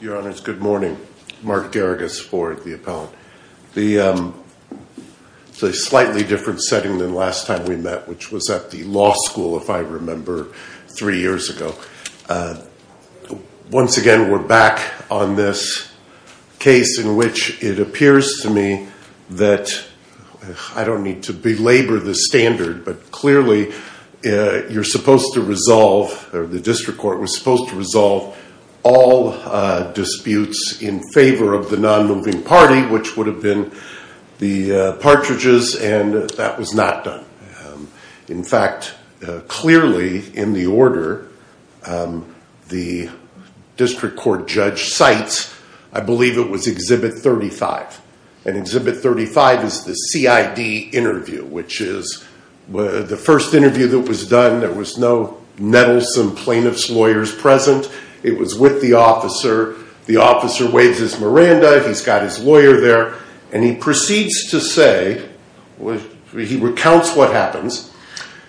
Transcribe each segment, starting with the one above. Your Honor, it's good morning. Mark Garagus for the appellant. The slightly different setting than last time we met, which was at the law school, if I remember, three years ago. Once again, we're back on this case in which it appears to me that I don't need to belabor the standard, but clearly you're supposed to resolve, or the district court was supposed to resolve, all disputes in favor of the non-moving party, which would have been the Partridges, and that was not done. In fact, clearly in the order the district court judge cites, I believe it was Exhibit 35. And Exhibit 35 is the CID interview, which is the first interview that was done. There was no nettlesome plaintiff's lawyers present. It was with the officer. The officer waves his Miranda, he's got his lawyer there, and he proceeds to say, he recounts what happens.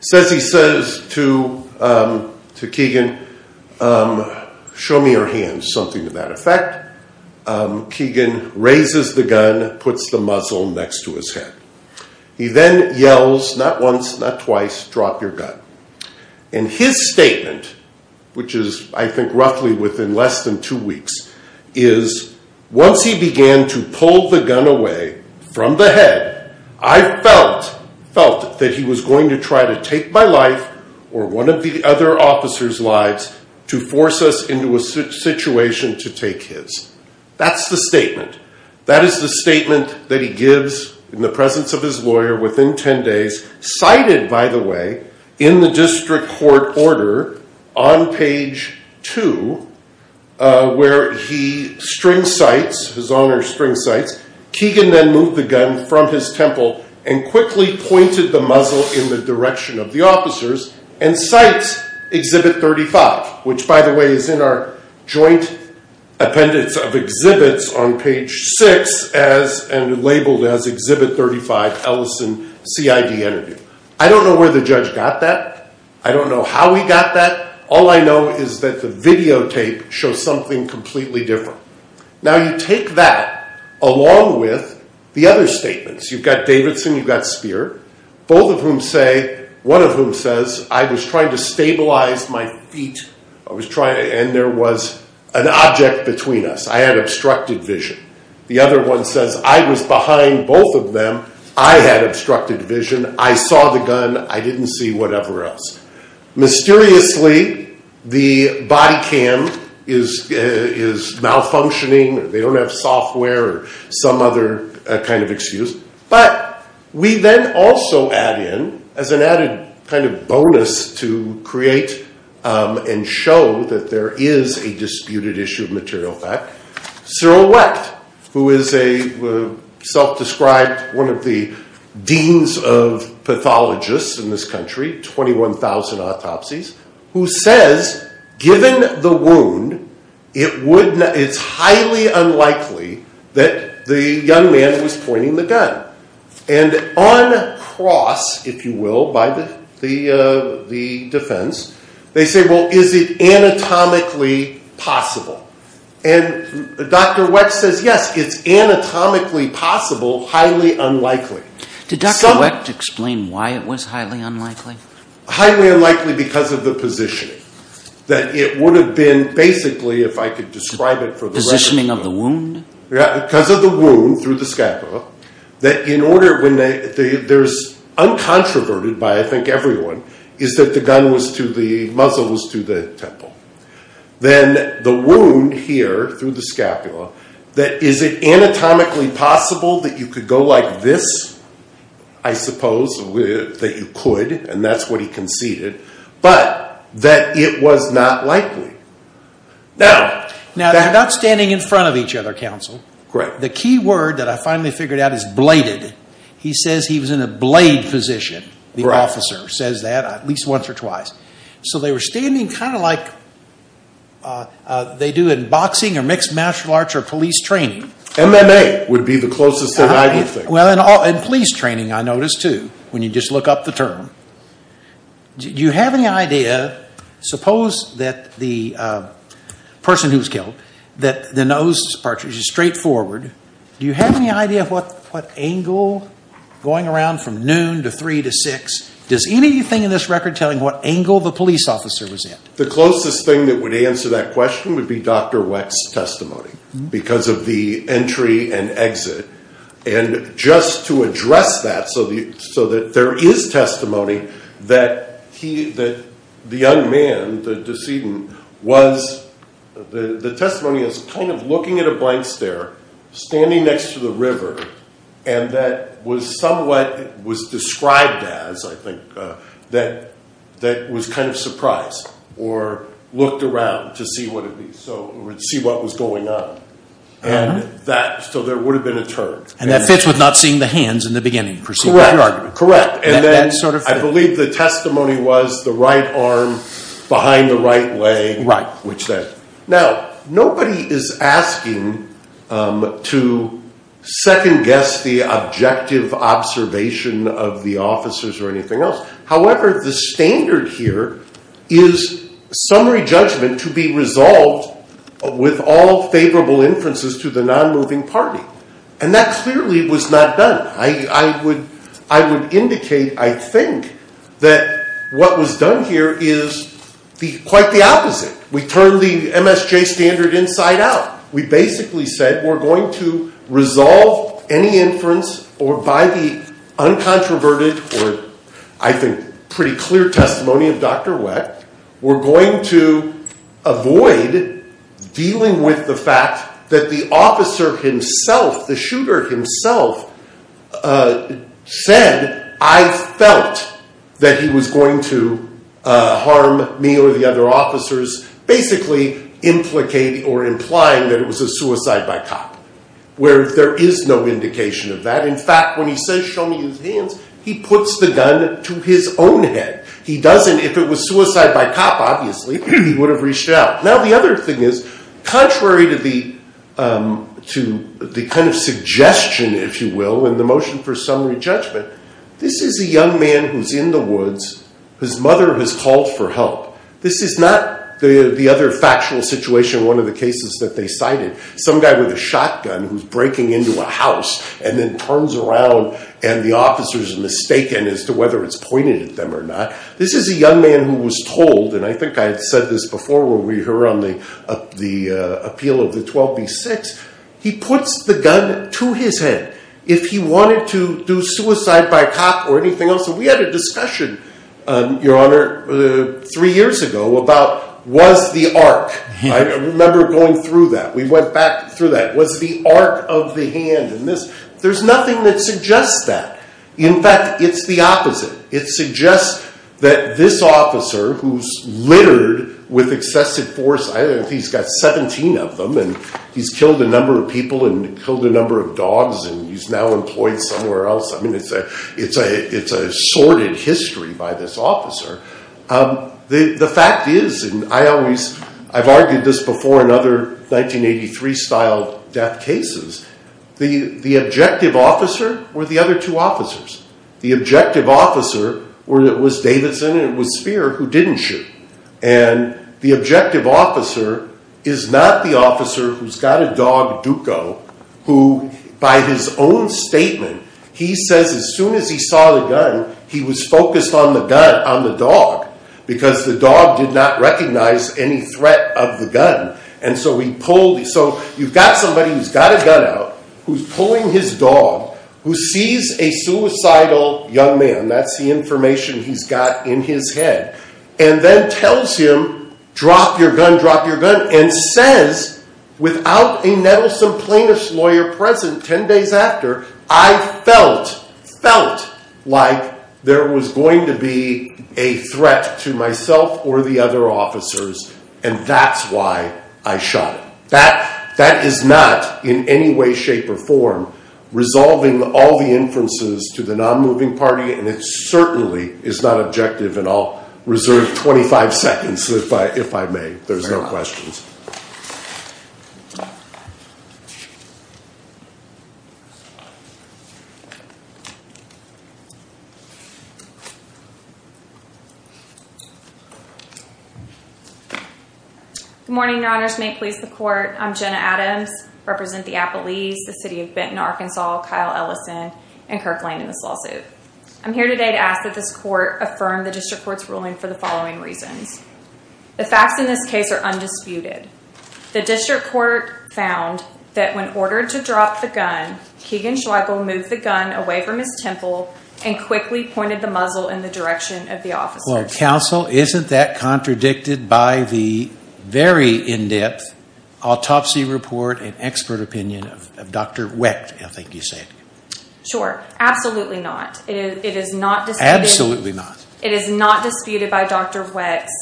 He says to Keegan, show me your hands, something to that effect. Keegan raises the gun, puts the muzzle next to his head. He then yells, not once, not twice, drop your gun. And his statement, which is I think roughly within less than two weeks, is once he began to pull the gun away from the head, I felt that he was going to try to take my life, or one of the other officer's lives, to force us into a situation to take his. That's the statement. That is the statement that he gives in the presence of his lawyer within ten days, cited, by the way, in the district court order on page two, where he string cites, his honor string cites, Keegan then moved the gun from his temple and quickly pointed the muzzle in the direction of the officers, and cites Exhibit 35, which, by the way, is in our joint appendix of exhibits on page six, and labeled as Exhibit 35, Ellison CID interview. I don't know where the judge got that. I don't know how he got that. All I know is that the videotape shows something completely different. Now you take that along with the other statements. You've got Davidson, you've got Speer, both of whom say, one of whom says, I was trying to stabilize my feet, and there was an object between us. I had obstructed vision. The other one says, I was behind both of them, I had obstructed vision, I saw the gun, I didn't see whatever else. Mysteriously, the body cam is malfunctioning. They don't have software or some other kind of excuse. But we then also add in, as an added kind of bonus to create and show that there is a disputed issue of material fact, Cyril Wecht, who is a self-described, one of the deans of pathologists in this country, 21,000 autopsies, who says, given the wound, it's highly unlikely that the young man was pointing the gun. And on cross, if you will, by the defense, they say, well, is it anatomically possible? And Dr. Wecht says, yes, it's anatomically possible, highly unlikely. Did Dr. Wecht explain why it was highly unlikely? Highly unlikely because of the positioning. That it would have been, basically, if I could describe it for the rest of you. Positioning of the wound? Because of the wound, through the scapula, that in order, when there's, uncontroverted by, I think, everyone, is that the gun was to the, the muzzle was to the temple. Then the wound here, through the scapula, that is it anatomically possible that you could go like this? I suppose that you could, and that's what he conceded, but that it was not likely. Now, they're not standing in front of each other, counsel. The key word that I finally figured out is bladed. He says he was in a blade position, the officer says that, at least once or twice. So they were standing kind of like they do in boxing or mixed martial arts or police training. MMA would be the closest thing I could think of. Well, and police training, I noticed, too, when you just look up the term. Do you have any idea, suppose that the person who was killed, that the nose part, which is straightforward, do you have any idea what angle, going around from noon to three to six, does anything in this record tell you what angle the police officer was in? The closest thing that would answer that question would be Dr. Weck's testimony, because of the entry and exit. And just to address that, so that there is testimony that he, that the young man, the decedent, was, the testimony is kind of looking at a blank stare, standing next to the river, and that was somewhat, was described as, I think, that was kind of surprised, or looked around to see what it was, to see what was going on. And that, so there would have been a turn. And that fits with not seeing the hands in the beginning. Correct, correct. And then I believe the testimony was the right arm behind the right leg. Right. Now, nobody is asking to second guess the objective observation of the officers or anything else. However, the standard here is summary judgment to be resolved with all favorable inferences to the non-moving party. And that clearly was not done. I would indicate, I think, that what was done here is quite the opposite. We turned the MSJ standard inside out. We basically said, we're going to resolve any inference, or by the uncontroverted, or I think pretty clear testimony of Dr. Weck, we're going to avoid dealing with the fact that the officer himself, the shooter himself, said, I felt that he was going to harm me or the other officers, basically implicating or implying that it was a suicide by cop. Where there is no indication of that. In fact, when he says, show me his hands, he puts the gun to his own head. He doesn't, if it was suicide by cop, obviously, he would have reached out. Now, the other thing is, contrary to the kind of suggestion, if you will, in the motion for summary judgment, this is a young man who's in the woods. His mother has called for help. This is not the other factual situation, one of the cases that they cited. Some guy with a shotgun who's breaking into a house and then turns around and the officer is mistaken as to whether it's pointed at them or not. This is a young man who was told, and I think I had said this before when we were on the appeal of the 12B6, he puts the gun to his head. If he wanted to do suicide by cop or anything else, and we had a discussion, Your Honor, three years ago about was the arc. I remember going through that. We went back through that. Was the arc of the hand in this? There's nothing that suggests that. In fact, it's the opposite. It suggests that this officer who's littered with excessive force, I don't know if he's got 17 of them, and he's killed a number of people and killed a number of dogs and he's now employed somewhere else. I mean, it's a sordid history by this officer. The fact is, and I've argued this before in other 1983-style death cases, the objective officer were the other two officers. The objective officer was Davidson and it was Speer who didn't shoot. And the objective officer is not the officer who's got a dog, Duco, who by his own statement, he says as soon as he saw the gun, he was focused on the dog because the dog did not recognize any threat of the gun. And so you've got somebody who's got a gun out, who's pulling his dog, who sees a suicidal young man, that's the information he's got in his head, and then tells him, drop your gun, drop your gun, and says without a nettlesome plaintiff's lawyer present 10 days after, I felt, felt like there was going to be a threat to myself or the other officers and that's why I shot him. That is not in any way, shape, or form resolving all the inferences to the non-moving party, and it certainly is not objective and I'll reserve 25 seconds if I may. There's no questions. Good morning, your honors. May it please the court, I'm Jenna Adams. I represent the Appalese, the city of Benton, Arkansas, Kyle Ellison, and Kirkland in this lawsuit. I'm here today to ask that this court affirm the district court's ruling for the following reasons. The facts in this case are undisputed. The district court found that when ordered to drop the gun, Keegan Schweigel moved the gun away from his temple and quickly pointed the muzzle in the direction of the officers. Counsel, isn't that contradicted by the very in-depth autopsy report and expert opinion of Dr. Wett, I think you said. Sure. Absolutely not. It is not disputed. Absolutely not. It is not disputed by Dr. Wett's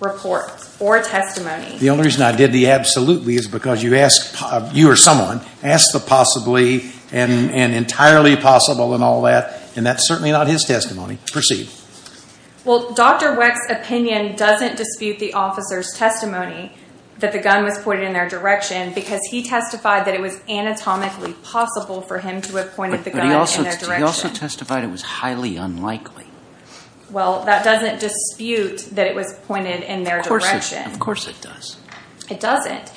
report or testimony. The only reason I did the absolutely is because you asked, you or someone, asked the possibly and entirely possible and all that, and that's certainly not his testimony. Proceed. Well, Dr. Wett's opinion doesn't dispute the officer's testimony that the gun was pointed in their direction because he testified that it was anatomically possible for him to have pointed the gun in their direction. But he also testified it was highly unlikely. Well, that doesn't dispute that it was pointed in their direction. Of course it does. It doesn't.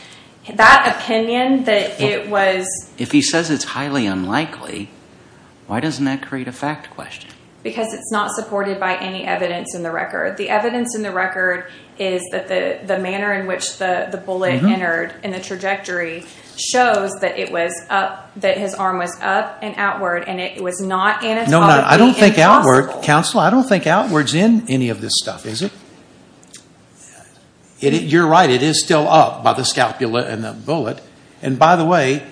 That opinion that it was… If he says it's highly unlikely, why doesn't that create a fact question? Because it's not supported by any evidence in the record. The evidence in the record is that the manner in which the bullet entered in the trajectory shows that it was up, that his arm was up and outward, and it was not anatomically impossible. No, I don't think outward, counsel, I don't think outward's in any of this stuff, is it? You're right. It is still up by the scapula and the bullet. And by the way,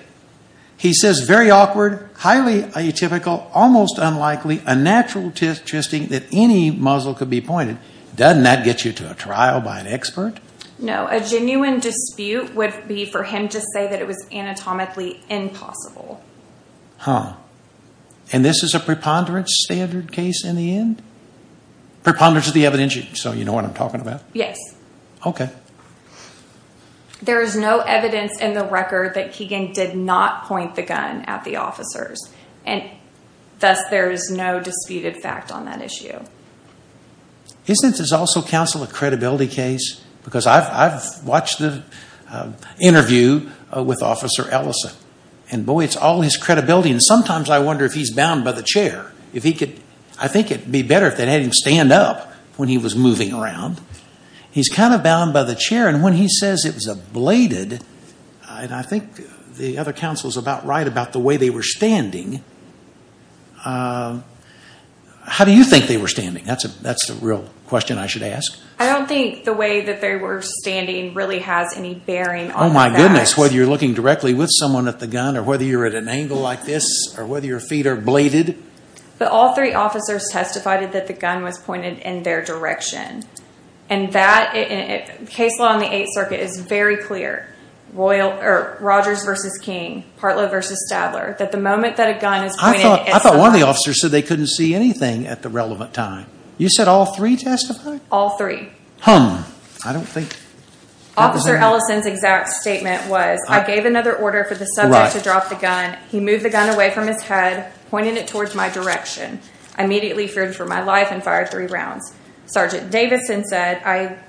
he says very awkward, highly atypical, almost unlikely, unnatural testing that any muzzle could be pointed. Doesn't that get you to a trial by an expert? No. A genuine dispute would be for him to say that it was anatomically impossible. Huh. And this is a preponderance standard case in the end? Preponderance of the evidence, so you know what I'm talking about? Yes. Okay. There is no evidence in the record that Keegan did not point the gun at the officers, and thus there is no disputed fact on that issue. Isn't this also, counsel, a credibility case? Because I've watched the interview with Officer Ellison, and boy, it's all his credibility. And sometimes I wonder if he's bound by the chair. I think it would be better if they had him stand up when he was moving around. He's kind of bound by the chair, and when he says it was ablated, and I think the other counsel is about right about the way they were standing. How do you think they were standing? That's the real question I should ask. I don't think the way that they were standing really has any bearing on the facts. Oh, my goodness. Whether you're looking directly with someone at the gun, or whether you're at an angle like this, or whether your feet are ablated. But all three officers testified that the gun was pointed in their direction. And that case law in the Eighth Circuit is very clear, Rogers v. King, Partlow v. Stadler, that the moment that a gun is pointed at someone. I thought one of the officers said they couldn't see anything at the relevant time. You said all three testified? All three. I don't think. Officer Ellison's exact statement was, I gave another order for the subject to drop the gun. He moved the gun away from his head, pointed it towards my direction. I immediately feared for my life and fired three rounds. Sergeant Davidson said,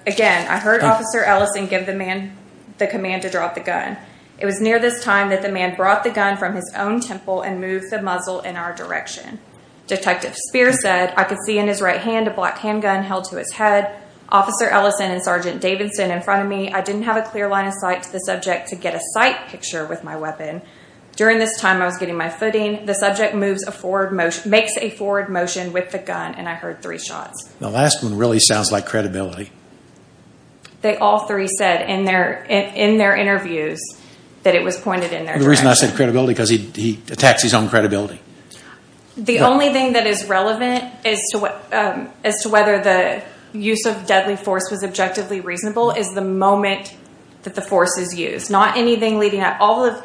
again, I heard Officer Ellison give the command to drop the gun. It was near this time that the man brought the gun from his own temple and moved the muzzle in our direction. Detective Spear said, I could see in his right hand a black handgun held to his head. Officer Ellison and Sergeant Davidson in front of me, I didn't have a clear line of sight to the subject to get a sight picture with my weapon. During this time, I was getting my footing. The subject makes a forward motion with the gun, and I heard three shots. The last one really sounds like credibility. All three said in their interviews that it was pointed in their direction. The reason I said credibility is because he attacks his own credibility. The only thing that is relevant as to whether the use of deadly force was objectively reasonable is the moment that the force is used. It's not anything leading at all.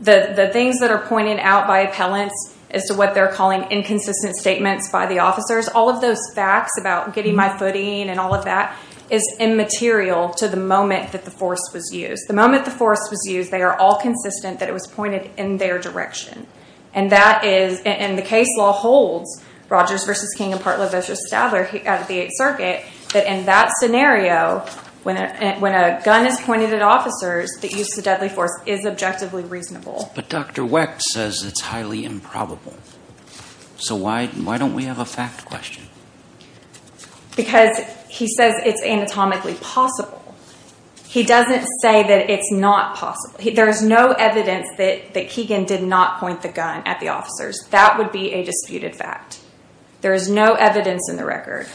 The things that are pointed out by appellants as to what they're calling inconsistent statements by the officers, all of those facts about getting my footing and all of that is immaterial to the moment that the force was used. The moment the force was used, they are all consistent that it was pointed in their direction. The case law holds, Rogers v. King and Partlow v. Stadler out of the Eighth Circuit, that in that scenario, when a gun is pointed at officers, the use of deadly force is objectively reasonable. But Dr. Wecht says it's highly improbable. So why don't we have a fact question? Because he says it's anatomically possible. He doesn't say that it's not possible. There's no evidence that Keegan did not point the gun at the officers. That would be a disputed fact. There is no evidence in the record.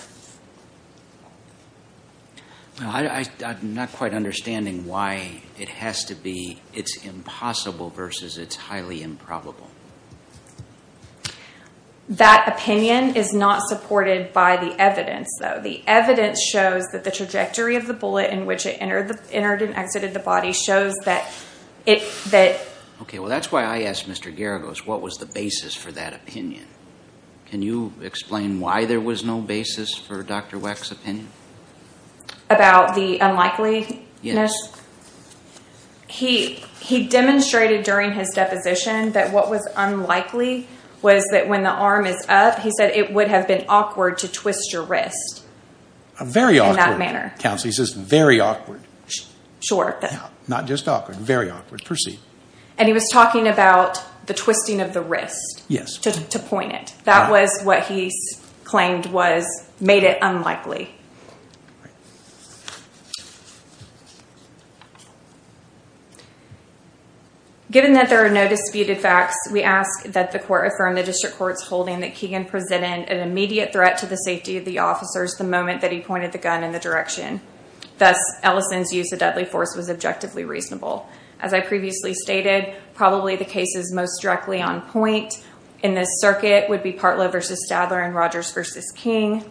I'm not quite understanding why it has to be it's impossible versus it's highly improbable. That opinion is not supported by the evidence, though. The evidence shows that the trajectory of the bullet in which it entered and exited the body shows that it did. Okay, well, that's why I asked Mr. Geragos what was the basis for that opinion. Can you explain why there was no basis for Dr. Wecht's opinion? About the unlikeliness? Yes. He demonstrated during his deposition that what was unlikely was that when the arm is up, he said it would have been awkward to twist your wrist in that manner. Very awkward, Counsel. He says very awkward. Sure. Not just awkward, very awkward. Proceed. And he was talking about the twisting of the wrist. Yes. To point it. That was what he claimed made it unlikely. Given that there are no disputed facts, we ask that the court affirm the district court's holding that Keegan presented an immediate threat to the safety of the officers the moment that he pointed the gun in the direction. Thus, Ellison's use of deadly force was objectively reasonable. As I previously stated, probably the cases most directly on point in this circuit would be Partlow v. Stadler and Rogers v. King.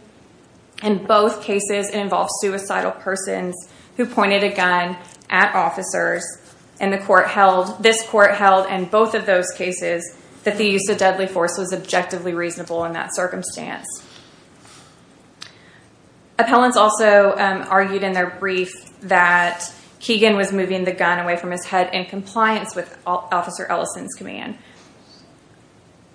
In both cases, it involved suicidal persons who pointed a gun at officers, and this court held in both of those cases that the use of deadly force was objectively reasonable in that circumstance. Appellants also argued in their brief that Keegan was moving the gun away from his head in compliance with Officer Ellison's command.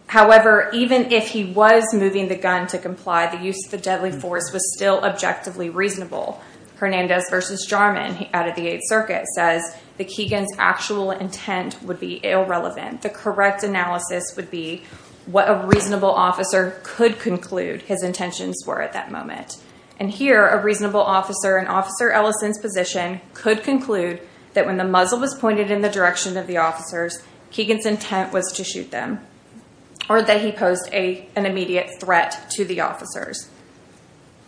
However, even if he was moving the gun to comply, the use of deadly force was still objectively reasonable. Hernandez v. Jarman out of the Eighth Circuit says that Keegan's actual intent would be irrelevant. The correct analysis would be what a reasonable officer could conclude his intentions were at that moment. Here, a reasonable officer in Officer Ellison's position could conclude that when the muzzle was pointed in the direction of the officers, Keegan's intent was to shoot them, or that he posed an immediate threat to the officers.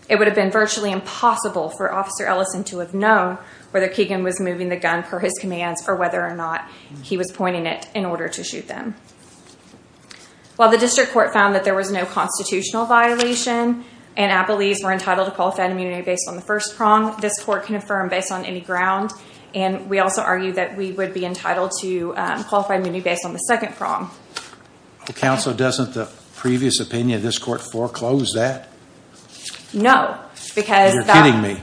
It would have been virtually impossible for Officer Ellison to have known whether Keegan was moving the gun per his commands or whether or not he was pointing it in order to shoot them. While the district court found that there was no constitutional violation, and appellees were entitled to qualified immunity based on the first prong, this court can affirm based on any ground, and we also argue that we would be entitled to qualified immunity based on the second prong. Counsel, doesn't the previous opinion of this court foreclose that? No, because... You're kidding me.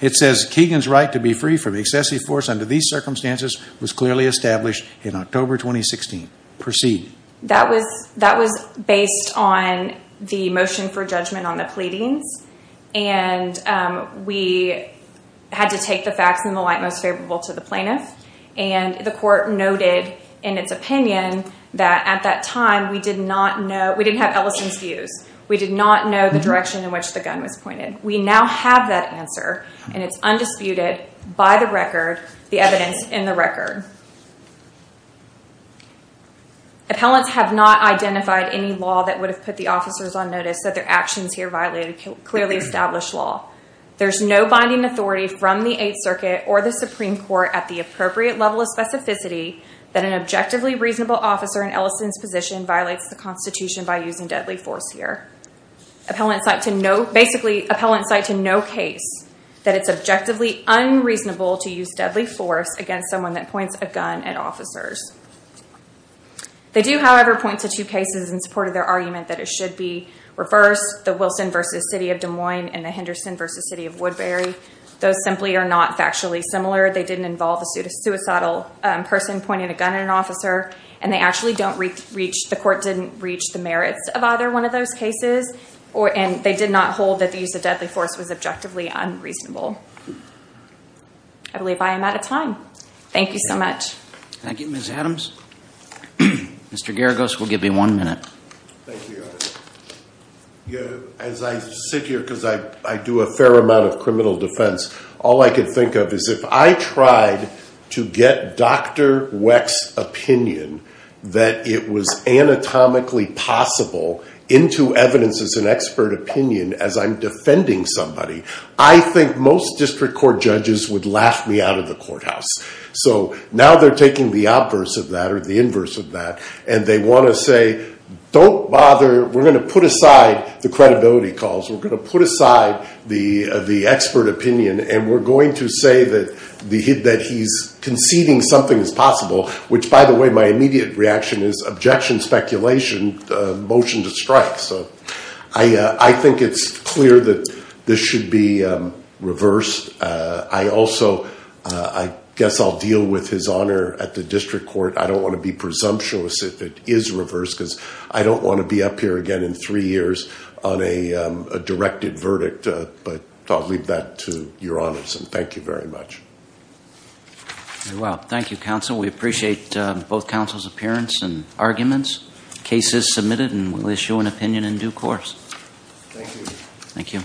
It says, Keegan's right to be free from excessive force under these circumstances was clearly established in October 2016. Proceed. That was based on the motion for judgment on the pleadings, and we had to take the facts in the light most favorable to the plaintiff, and the court noted in its opinion that at that time we did not know, we didn't have Ellison's views. We did not know the direction in which the gun was pointed. We now have that answer, and it's undisputed by the record, the evidence in the record. Appellants have not identified any law that would have put the officers on notice that their actions here clearly established law. There's no binding authority from the Eighth Circuit or the Supreme Court at the appropriate level of specificity that an objectively reasonable officer in Ellison's position violates the Constitution by using deadly force here. Appellants cite to no... Basically, appellants cite to no case that it's objectively unreasonable to use deadly force against someone that points a gun at officers. They do, however, point to two cases in support of their argument that it should be reversed, the Wilson v. City of Des Moines and the Henderson v. City of Woodbury. Those simply are not factually similar. And they actually don't reach... The court didn't reach the merits of either one of those cases, and they did not hold that the use of deadly force was objectively unreasonable. I believe I am out of time. Thank you so much. Thank you, Ms. Adams. Mr. Geragos will give you one minute. Thank you. As I sit here, because I do a fair amount of criminal defense, all I can think of is if I tried to get Dr. Weck's opinion that it was anatomically possible into evidence as an expert opinion as I'm defending somebody, I think most district court judges would laugh me out of the courthouse. So now they're taking the obverse of that or the inverse of that, and they want to say, don't bother. We're going to put aside the credibility calls. We're going to put aside the expert opinion, and we're going to say that he's conceding something is possible, which, by the way, my immediate reaction is objection, speculation, motion to strike. So I think it's clear that this should be reversed. I also guess I'll deal with his honor at the district court. I don't want to be presumptuous if it is reversed, because I don't want to be up here again in three years on a directed verdict. But I'll leave that to your honors, and thank you very much. Very well. Thank you, counsel. We appreciate both counsel's appearance and arguments. The case is submitted, and we'll issue an opinion in due course. Thank you. Thank you.